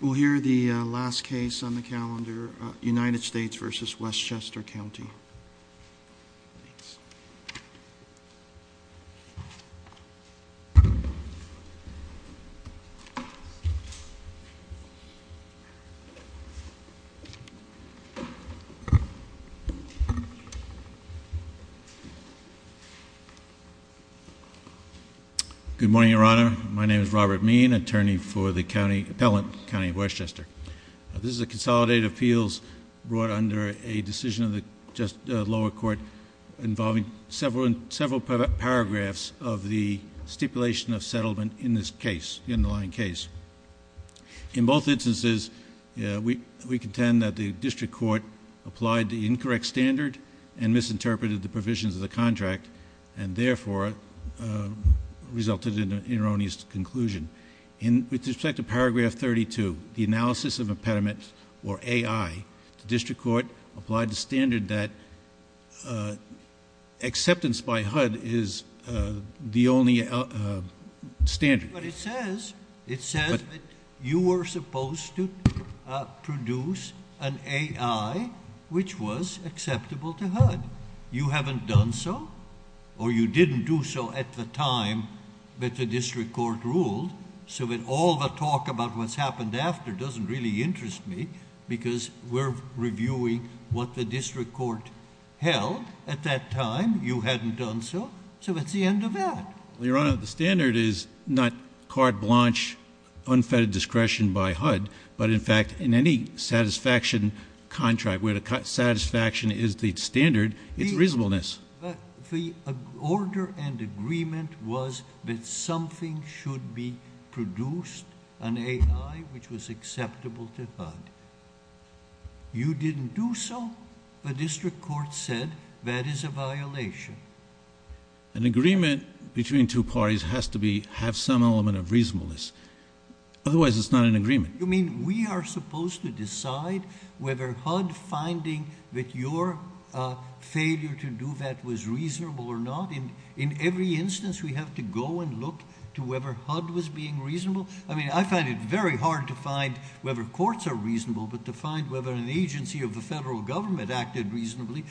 We'll hear the last case on the calendar, United States v. Westchester County. Thanks. Good morning, Your Honor. My name is Robert Meehan, attorney for the Appellant County of Westchester. This is a consolidated appeals brought under a decision of the lower court involving several paragraphs of the stipulation of settlement in this underlying case. In both instances, we contend that the district court applied the incorrect standard and misinterpreted the provisions of the contract, and therefore resulted in an erroneous conclusion. With respect to paragraph 32, the analysis of impediment or AI, the district court applied the standard that acceptance by HUD is the only standard. But it says, it says that you were supposed to produce an AI which was acceptable to HUD. You haven't done so, or you didn't do so at the time that the district court ruled, so that all the talk about what's happened after doesn't really interest me, because we're reviewing what the district court held at that time. You hadn't done so, so it's the end of that. Your Honor, the standard is not carte blanche unfettered discretion by HUD, but, in fact, in any satisfaction contract where the satisfaction is the standard, it's reasonableness. The order and agreement was that something should be produced, an AI which was acceptable to HUD. You didn't do so. The district court said that is a violation. An agreement between two parties has to have some element of reasonableness. Otherwise, it's not an agreement. You mean we are supposed to decide whether HUD finding that your failure to do that was reasonable or not? In every instance, we have to go and look to whether HUD was being reasonable? I mean, I find it very hard to find whether courts are reasonable, but to find whether an agency of the federal government acted reasonably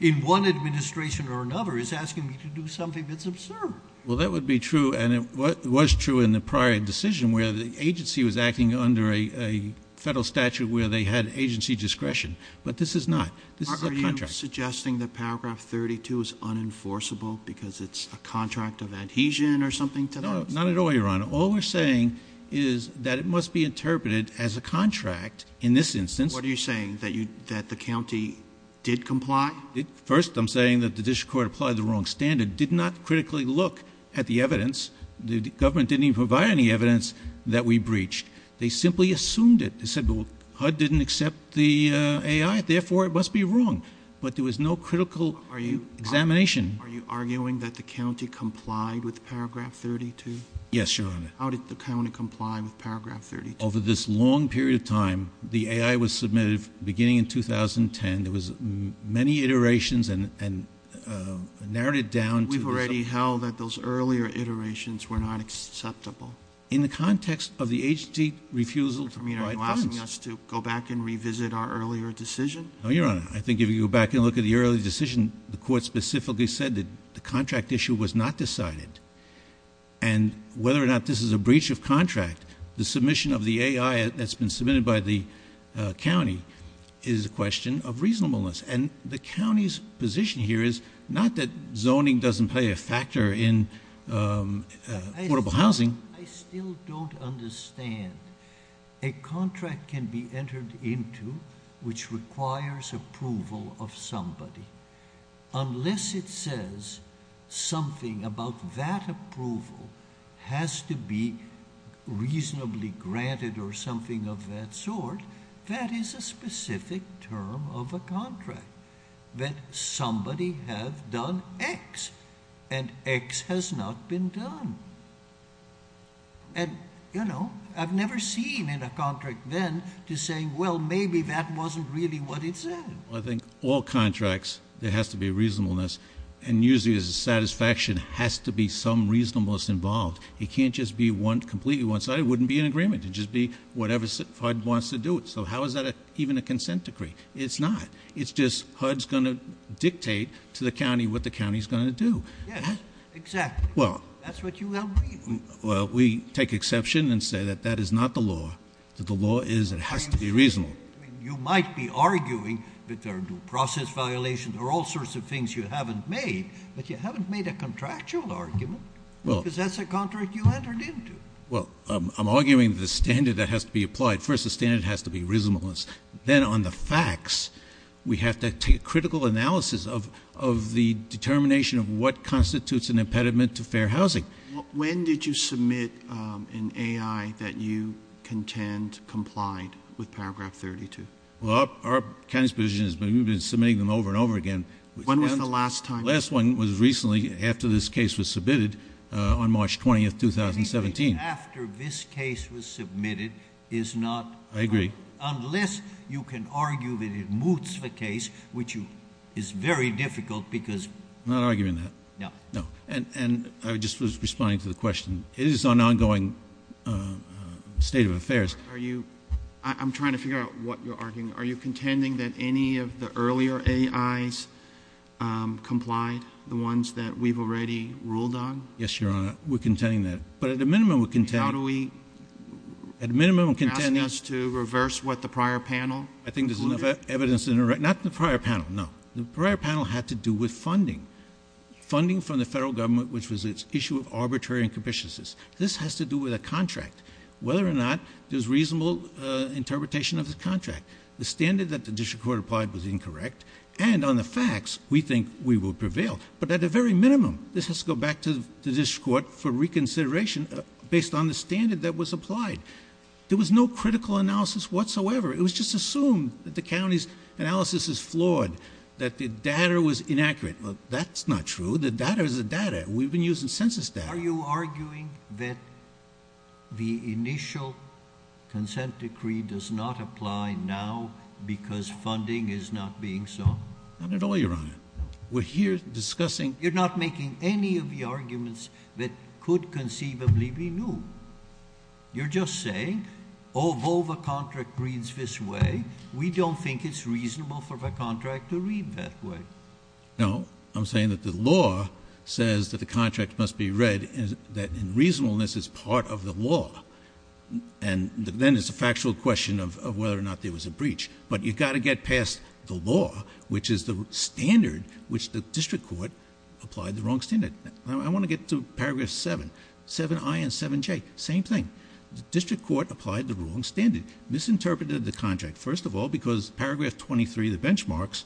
in one administration or another is asking me to do something that's absurd. Well, that would be true, and it was true in the prior decision where the agency was acting under a federal statute where they had agency discretion, but this is not. This is a contract. Are you suggesting that paragraph 32 is unenforceable because it's a contract of adhesion or something to that? No, not at all, Your Honor. All we're saying is that it must be interpreted as a contract in this instance. What are you saying, that the county did comply? First, I'm saying that the district court applied the wrong standard, did not critically look at the evidence. The government didn't even provide any evidence that we breached. They simply assumed it. They said, well, HUD didn't accept the AI, therefore it must be wrong, but there was no critical examination. Are you arguing that the county complied with paragraph 32? Yes, Your Honor. How did the county comply with paragraph 32? Over this long period of time, the AI was submitted beginning in 2010. There was many iterations and narrowed it down. We've already held that those earlier iterations were not acceptable. In the context of the agency refusal to comply. Are you asking us to go back and revisit our earlier decision? No, Your Honor. I think if you go back and look at the earlier decision, the court specifically said that the contract issue was not decided. Whether or not this is a breach of contract, the submission of the AI that's been submitted by the county is a question of reasonableness. The county's position here is not that zoning doesn't play a factor in affordable housing. I still don't understand. A contract can be entered into which requires approval of somebody. Unless it says something about that approval has to be reasonably granted or something of that sort, that is a specific term of a contract. That somebody has done X and X has not been done. I've never seen in a contract then to say, well, maybe that wasn't really what it said. Well, I think all contracts, there has to be reasonableness. And usually there's a satisfaction has to be some reasonableness involved. It can't just be completely one side. It wouldn't be an agreement. It'd just be whatever HUD wants to do it. So how is that even a consent decree? It's not. It's just HUD's going to dictate to the county what the county's going to do. Yes, exactly. That's what you have agreed. Well, we take exception and say that that is not the law. The law is it has to be reasonable. You might be arguing that there are due process violations or all sorts of things you haven't made, but you haven't made a contractual argument because that's a contract you entered into. Well, I'm arguing the standard that has to be applied. First, the standard has to be reasonableness. Then on the facts, we have to take a critical analysis of the determination of what constitutes an impediment to fair housing. When did you submit an A.I. that you contend complied with Paragraph 32? Well, our county's position has been we've been submitting them over and over again. When was the last time? The last one was recently after this case was submitted on March 20th, 2017. After this case was submitted is not... I agree. Unless you can argue that it moots the case, which is very difficult because... I'm not arguing that. No. And I was just responding to the question. It is an ongoing state of affairs. Are you... I'm trying to figure out what you're arguing. Are you contending that any of the earlier A.I.s complied, the ones that we've already ruled on? Yes, Your Honor. We're contending that. But at a minimum, we contend... How do we... At a minimum, we contend... You're asking us to reverse what the prior panel concluded? I think there's enough evidence... Not the prior panel. No. The prior panel had to do with funding. Funding from the federal government, which was an issue of arbitrary and capriciousness. This has to do with a contract. Whether or not there's reasonable interpretation of the contract. The standard that the district court applied was incorrect. And on the facts, we think we will prevail. But at the very minimum, this has to go back to the district court for reconsideration. Based on the standard that was applied. There was no critical analysis whatsoever. It was just assumed that the county's analysis is flawed. That the data was inaccurate. That's not true. The data is the data. We've been using census data. Are you arguing that the initial consent decree does not apply now because funding is not being sought? Not at all, Your Honor. We're here discussing... You're not making any of the arguments that could conceivably be new. You're just saying, although the contract reads this way, we don't think it's reasonable for the contract to read that way. No. I'm saying that the law says that the contract must be read that in reasonableness is part of the law. And then it's a factual question of whether or not there was a breach. But you've got to get past the law, which is the standard which the district court applied the wrong standard. I want to get to paragraph 7. 7i and 7j. Same thing. The district court applied the wrong standard. Misinterpreted the contract. First of all, because paragraph 23, the benchmarks,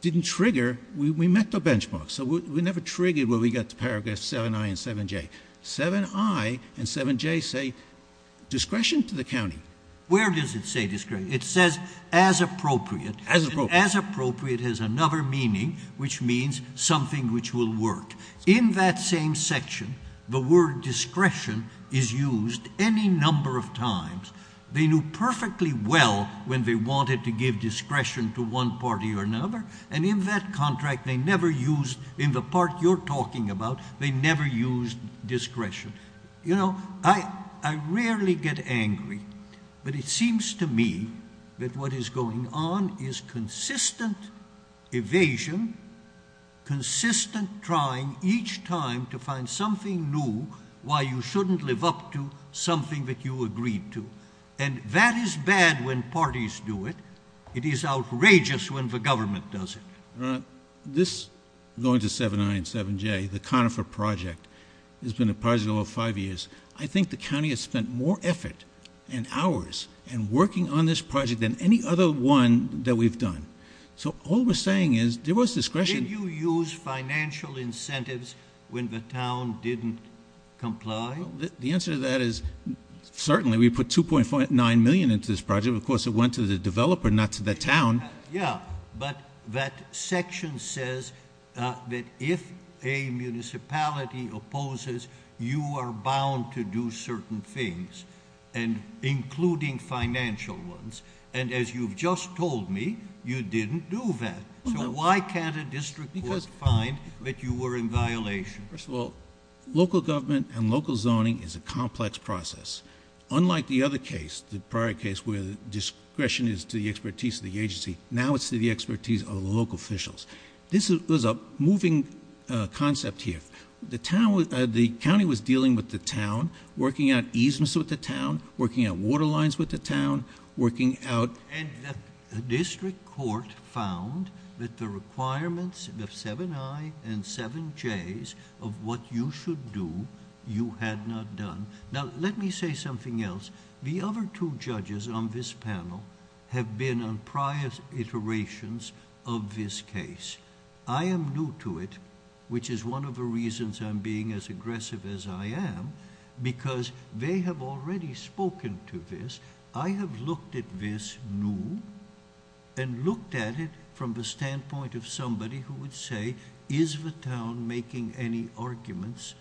didn't trigger. We met the benchmarks. So we never triggered where we got to paragraph 7i and 7j. 7i and 7j say discretion to the county. Where does it say discretion? It says as appropriate. As appropriate. And as appropriate has another meaning, which means something which will work. In that same section, the word discretion is used any number of times. They knew perfectly well when they wanted to give discretion to one party or another. And in that contract, they never used, in the part you're talking about, they never used discretion. You know, I rarely get angry. But it seems to me that what is going on is consistent evasion, consistent trying each time to find something new, why you shouldn't live up to something that you agreed to. And that is bad when parties do it. It is outrageous when the government does it. This, going to 7i and 7j, the Conifer project has been a project over five years. I think the county has spent more effort and hours in working on this project than any other one that we've done. So all we're saying is there was discretion. Did you use financial incentives when the town didn't comply? The answer to that is certainly. We put $2.9 million into this project. But that section says that if a municipality opposes, you are bound to do certain things, including financial ones. And as you've just told me, you didn't do that. So why can't a district court find that you were in violation? First of all, local government and local zoning is a complex process. Unlike the other case, the prior case where the discretion is to the expertise of the agency, now it's to the expertise of the local officials. This was a moving concept here. The county was dealing with the town, working out easements with the town, working out water lines with the town, working out... And the district court found that the requirements of 7i and 7j's of what you should do, you had not done. Now, let me say something else. The other two judges on this panel have been on prior iterations of this case. I am new to it, which is one of the reasons I'm being as aggressive as I am, because they have already spoken to this. I have looked at this new and looked at it from the standpoint of somebody who would say, is the town making any arguments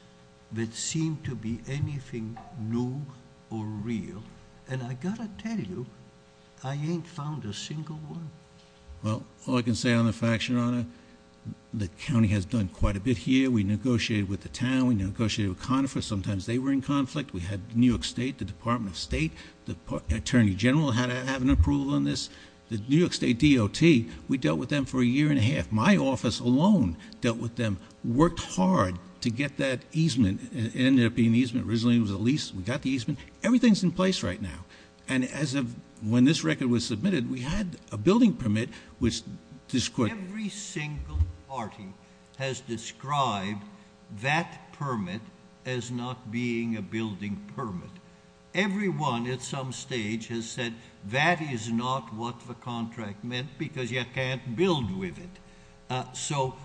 that seem to be anything new or real? And, I've got to tell you, I ain't found a single one. Well, all I can say on the fact, Your Honor, the county has done quite a bit here. We negotiated with the town. We negotiated with Conifer. Sometimes they were in conflict. We had New York State, the Department of State, the Attorney General had to have an approval on this. The New York State DOT, we dealt with them for a year and a half. My office alone dealt with them. Worked hard to get that easement. It ended up being an easement. Originally, it was a lease. We got the easement. Everything's in place right now. And, as of when this record was submitted, we had a building permit which... Everyone, at some stage, has said that is not what the contract meant because you can't build with it. So,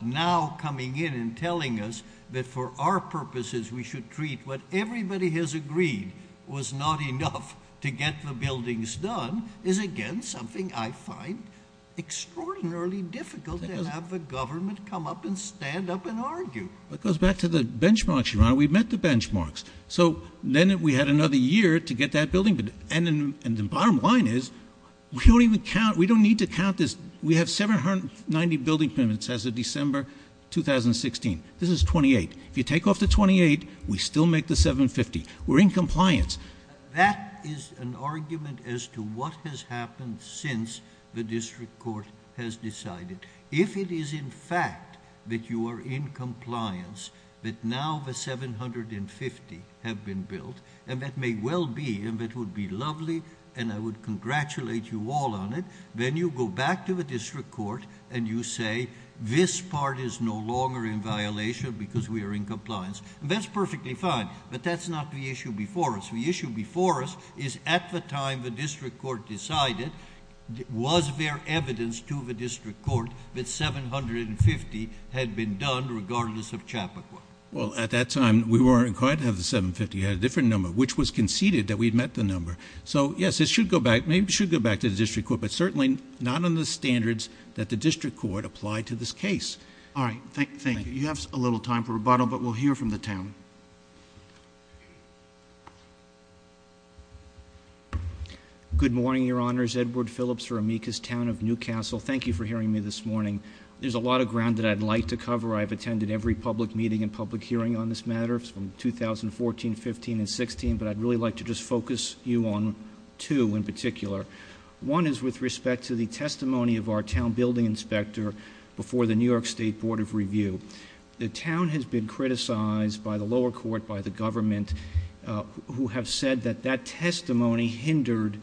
now coming in and telling us that for our purposes, we should treat what everybody has agreed was not enough to get the buildings done, is again something I find extraordinarily difficult to have the government come up and stand up and argue. It goes back to the benchmarks, Your Honor. We met the benchmarks. So, then we had another year to get that building. And, the bottom line is, we don't even count. We don't need to count this. We have 790 building permits as of December 2016. This is 28. If you take off the 28, we still make the 750. We're in compliance. That is an argument as to what has happened since the district court has decided. If it is, in fact, that you are in compliance, that now the 750 have been built, and that may well be, and that would be lovely, and I would congratulate you all on it. Then, you go back to the district court and you say, this part is no longer in violation because we are in compliance. And, that's perfectly fine. But, that's not the issue before us. The issue before us is, at the time the district court decided, was there evidence to the district court that 750 had been done regardless of Chappaqua? Well, at that time, we weren't required to have the 750. We had a different number, which was conceded that we had met the number. So, yes, it should go back. Maybe it should go back to the district court, but certainly not on the standards that the district court applied to this case. All right. Thank you. You have a little time for rebuttal, but we'll hear from the town. Good morning, your honors. Edward Phillips for Amicus Town of New Castle. Thank you for hearing me this morning. There's a lot of ground that I'd like to cover. I've attended every public meeting and public hearing on this matter from 2014, 15, and 16. But, I'd really like to just focus you on two in particular. One is with respect to the testimony of our town building inspector before the New York State Board of Review. The town has been criticized by the lower court, by the government, who have said that that testimony hindered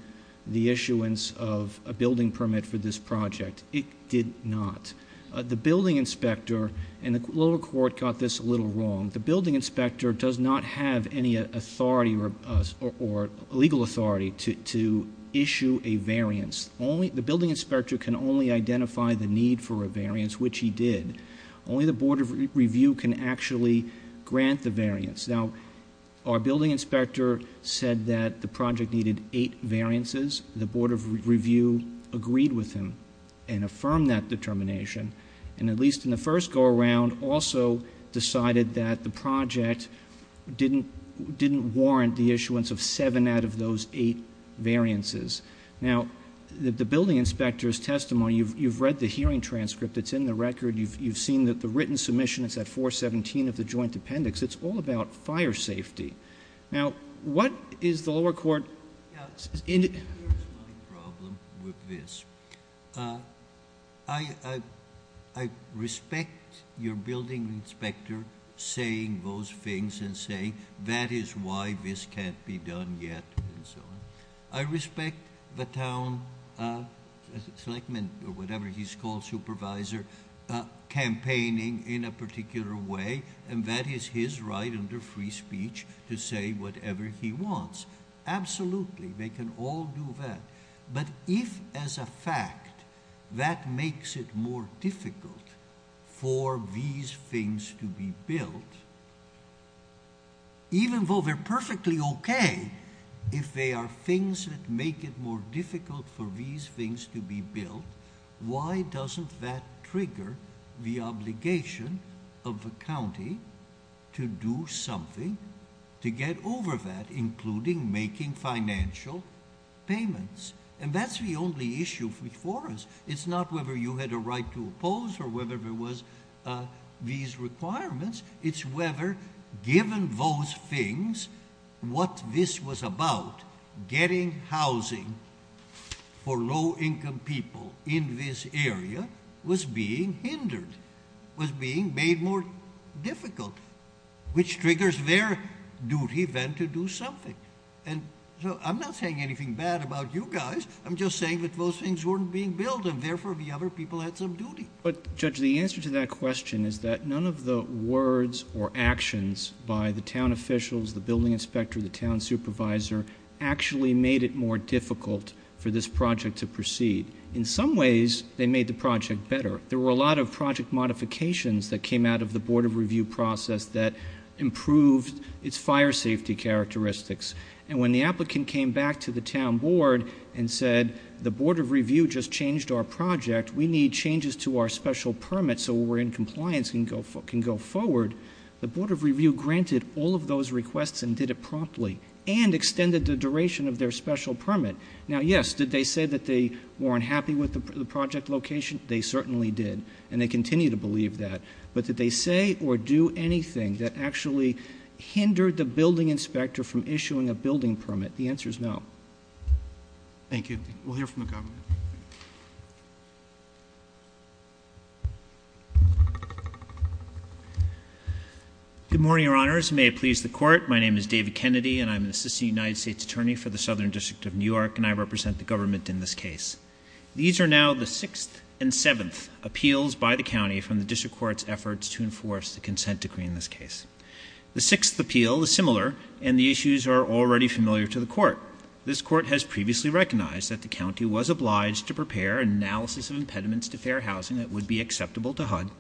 the issuance of a building permit for this project. It did not. The building inspector, and the lower court got this a little wrong, the building inspector does not have any authority or legal authority to issue a variance. The building inspector can only identify the need for a variance, which he did. Only the Board of Review can actually grant the variance. Now, our building inspector said that the project needed eight variances. The Board of Review agreed with him and affirmed that determination. And, at least in the first go around, also decided that the project didn't warrant the issuance of seven out of those eight variances. Now, the building inspector's testimony, you've read the hearing transcript. It's in the record. You've seen that the written submission is at 417 of the joint appendix. It's all about fire safety. Now, what is the lower court— Here's my problem with this. I respect your building inspector saying those things and saying that is why this can't be done yet and so on. I respect the town selectman or whatever he's called, supervisor, campaigning in a particular way, and that is his right under free speech to say whatever he wants. Absolutely, they can all do that. But if, as a fact, that makes it more difficult for these things to be built, even though they're perfectly okay, if they are things that make it more difficult for these things to be built, why doesn't that trigger the obligation of the county to do something to get over that, including making financial payments? And that's the only issue before us. It's not whether you had a right to oppose or whether there was these requirements. It's whether, given those things, what this was about, getting housing for low-income people in this area was being hindered, was being made more difficult, which triggers their duty then to do something. And so I'm not saying anything bad about you guys. I'm just saying that those things weren't being built, and therefore the other people had some duty. But, Judge, the answer to that question is that none of the words or actions by the town officials, the building inspector, the town supervisor actually made it more difficult for this project to proceed. In some ways, they made the project better. There were a lot of project modifications that came out of the board of review process that improved its fire safety characteristics. And when the applicant came back to the town board and said, the board of review just changed our project, we need changes to our special permit so we're in compliance and can go forward, the board of review granted all of those requests and did it promptly and extended the duration of their special permit. Now, yes, did they say that they weren't happy with the project location? They certainly did, and they continue to believe that. But did they say or do anything that actually hindered the building inspector from issuing a building permit? The answer is no. Thank you. We'll hear from the government. Good morning, Your Honors. May it please the court, my name is David Kennedy, and I'm an assistant United States attorney for the Southern District of New York, and I represent the government in this case. These are now the sixth and seventh appeals by the county from the district court's efforts to enforce the consent decree in this case. The sixth appeal is similar, and the issues are already familiar to the court. This court has previously recognized that the county was obliged to prepare an analysis of impediments to fair housing that would be acceptable to HUD,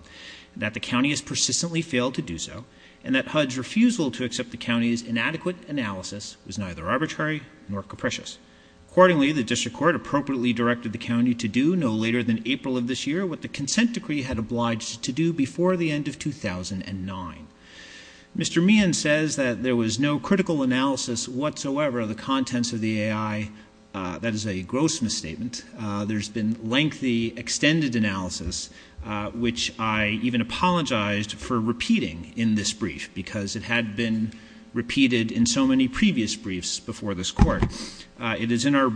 that the county has persistently failed to do so, and that HUD's refusal to accept the county's inadequate analysis was neither arbitrary nor capricious. Accordingly, the district court appropriately directed the county to do no later than April of this year what the consent decree had obliged to do before the end of 2009. Mr. Meehan says that there was no critical analysis whatsoever of the contents of the AI. That is a gross misstatement. There's been lengthy, extended analysis, which I even apologized for repeating in this brief because it had been repeated in so many previous briefs before this court. It is in our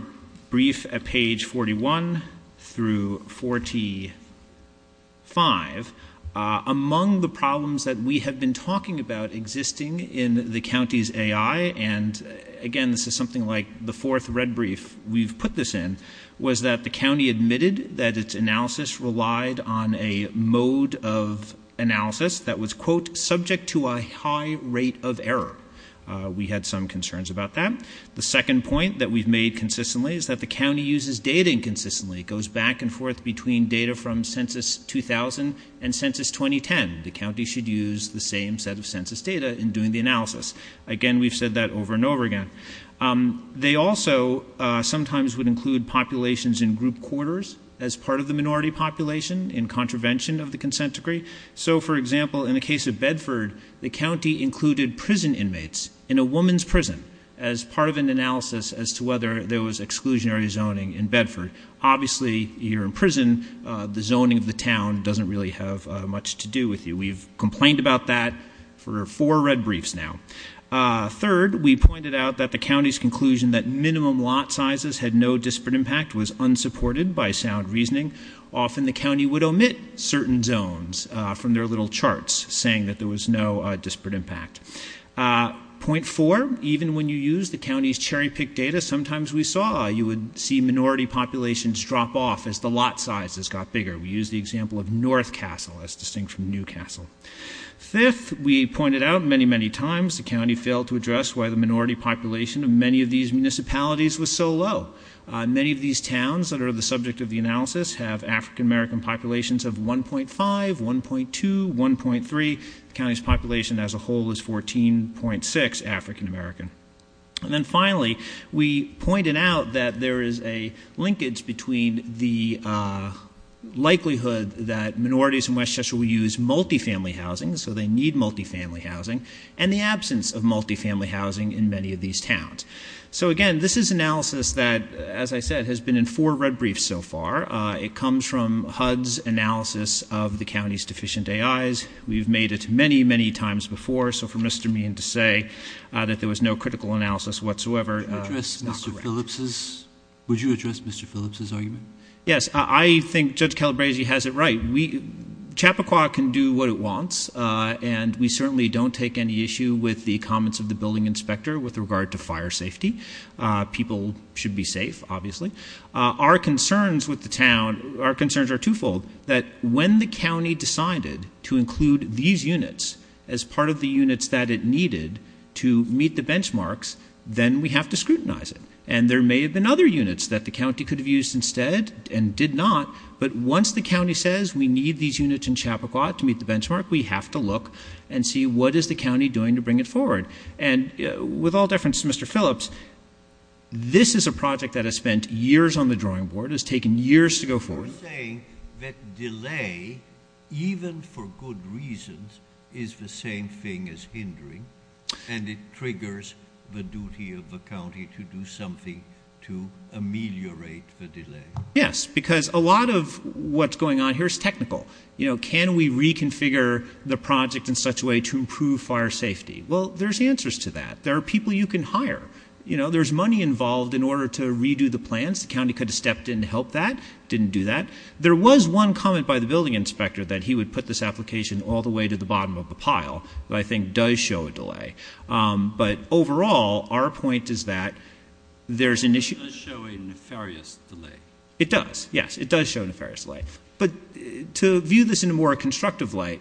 brief at page 41 through 45. Among the problems that we have been talking about existing in the county's AI, and again this is something like the fourth red brief we've put this in, was that the county admitted that its analysis relied on a mode of analysis that was, quote, subject to a high rate of error. We had some concerns about that. The second point that we've made consistently is that the county uses data inconsistently. It goes back and forth between data from Census 2000 and Census 2010. The county should use the same set of census data in doing the analysis. Again, we've said that over and over again. They also sometimes would include populations in group quarters as part of the minority population in contravention of the consent decree. So, for example, in the case of Bedford, the county included prison inmates in a woman's prison as part of an analysis as to whether there was exclusionary zoning in Bedford. Obviously, you're in prison. The zoning of the town doesn't really have much to do with you. We've complained about that for four red briefs now. Third, we pointed out that the county's conclusion that minimum lot sizes had no disparate impact was unsupported by sound reasoning. Often, the county would omit certain zones from their little charts, saying that there was no disparate impact. Point four, even when you use the county's cherry-picked data, sometimes we saw you would see minority populations drop off as the lot sizes got bigger. We used the example of North Castle as distinct from New Castle. Fifth, we pointed out many, many times the county failed to address why the minority population of many of these municipalities was so low. Many of these towns that are the subject of the analysis have African-American populations of 1.5, 1.2, 1.3. The county's population as a whole is 14.6 African-American. And then finally, we pointed out that there is a linkage between the likelihood that minorities in West Cheshire will use multifamily housing, so they need multifamily housing, and the absence of multifamily housing in many of these towns. So, again, this is analysis that, as I said, has been in four red briefs so far. It comes from HUD's analysis of the county's deficient AIs. We've made it many, many times before. So for Mr. Meehan to say that there was no critical analysis whatsoever is not correct. Would you address Mr. Phillips' argument? Yes. I think Judge Calabresi has it right. Chappaqua can do what it wants, and we certainly don't take any issue with the comments of the building inspector with regard to fire safety. People should be safe, obviously. Our concerns with the town, our concerns are twofold, that when the county decided to include these units as part of the units that it needed to meet the benchmarks, then we have to scrutinize it. And there may have been other units that the county could have used instead and did not, but once the county says we need these units in Chappaqua to meet the benchmark, we have to look and see what is the county doing to bring it forward. And with all deference to Mr. Phillips, this is a project that has spent years on the drawing board, has taken years to go forward. You're saying that delay, even for good reasons, is the same thing as hindering, and it triggers the duty of the county to do something to ameliorate the delay. Yes, because a lot of what's going on here is technical. You know, can we reconfigure the project in such a way to improve fire safety? Well, there's answers to that. There are people you can hire. You know, there's money involved in order to redo the plans. The county could have stepped in to help that, didn't do that. There was one comment by the building inspector that he would put this application all the way to the bottom of the pile, that I think does show a delay. But overall, our point is that there's an issue. It does show a nefarious delay. It does, yes. It does show a nefarious delay. But to view this in a more constructive light,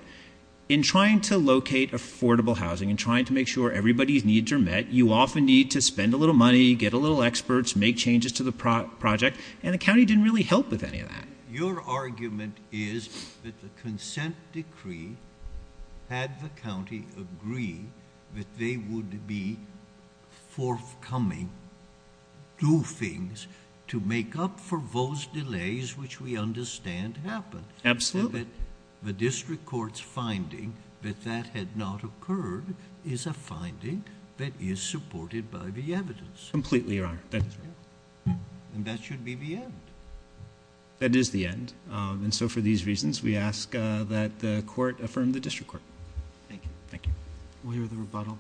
in trying to locate affordable housing and trying to make sure everybody's needs are met, you often need to spend a little money, get a little experts, make changes to the project, and the county didn't really help with any of that. Your argument is that the consent decree had the county agree that they would be forthcoming, do things to make up for those delays which we understand happened. Absolutely. The district court's finding that that had not occurred is a finding that is supported by the evidence. Completely, Your Honor. And that should be the end. That is the end. And so for these reasons, we ask that the court affirm the district court. Thank you. Thank you. We'll hear the rebuttal.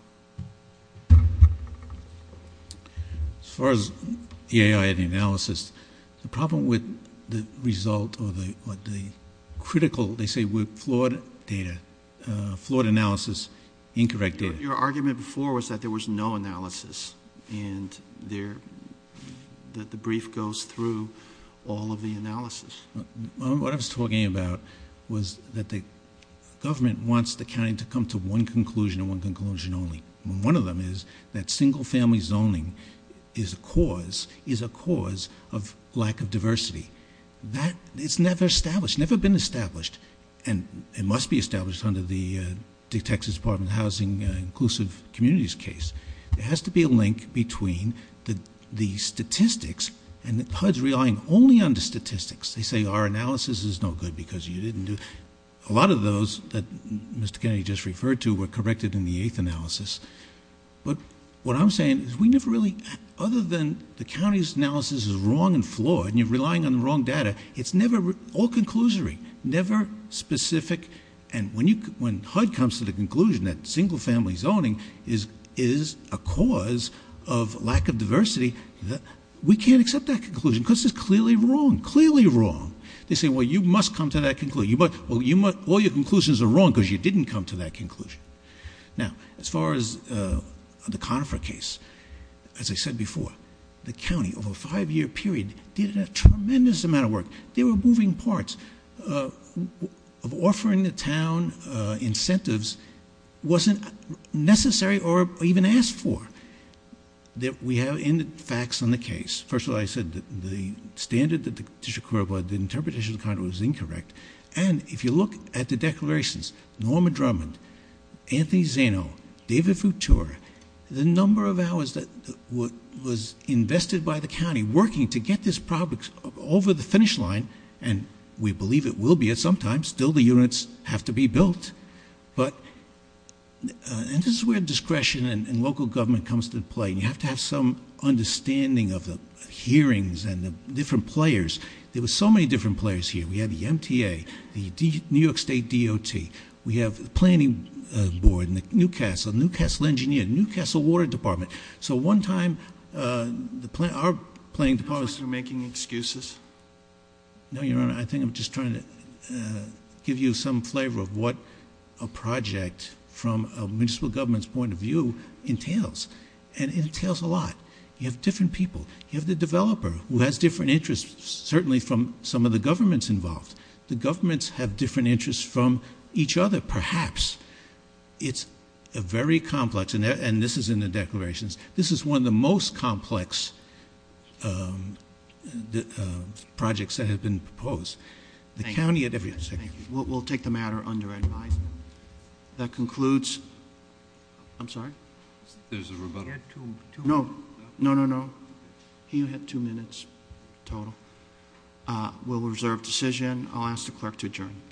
As far as the AI analysis, the problem with the result or the critical, they say, with flawed data, flawed analysis, incorrect data. Your argument before was that there was no analysis and that the brief goes through all of the analysis. What I was talking about was that the government wants the county to come to one conclusion and one conclusion only. One of them is that single-family zoning is a cause of lack of diversity. It's never established, never been established, and it must be established under the Texas Department of Housing Inclusive Communities case. There has to be a link between the statistics and HUD's relying only on the statistics. They say our analysis is no good because you didn't do it. A lot of those that Mr. Kennedy just referred to were corrected in the eighth analysis. But what I'm saying is we never really, other than the county's analysis is wrong and flawed and you're relying on the wrong data, it's never all conclusory, never specific. And when HUD comes to the conclusion that single-family zoning is a cause of lack of diversity, we can't accept that conclusion because it's clearly wrong, clearly wrong. They say, well, you must come to that conclusion. Well, all your conclusions are wrong because you didn't come to that conclusion. Now, as far as the Conifer case, as I said before, the county over a five-year period did a tremendous amount of work. They were moving parts. Offering the town incentives wasn't necessary or even asked for. We have facts on the case. First of all, I said that the standard that the district court applied, the interpretation of the conduct was incorrect. And if you look at the declarations, Norma Drummond, Anthony Zeno, David Futura, the number of hours that was invested by the county working to get this project over the finish line, and we believe it will be at some time, still the units have to be built. And this is where discretion and local government comes into play. You have to have some understanding of the hearings and the different players. There were so many different players here. We had the MTA, the New York State DOT. We have the Planning Board and the Newcastle, Newcastle Engineer, Newcastle Water Department. So one time, our planning department was making excuses. No, Your Honor, I think I'm just trying to give you some flavor of what a project from a municipal government's point of view entails. And it entails a lot. You have different people. You have the developer who has different interests, certainly from some of the governments involved. The governments have different interests from each other, perhaps. It's a very complex, and this is in the declarations. This is one of the most complex projects that have been proposed. The county at every step. Thank you. We'll take the matter under advice. That concludes. I'm sorry? There's a rebuttal. No, no, no, no. He had two minutes total. We'll reserve decision. I'll ask the clerk to adjourn. Thank you.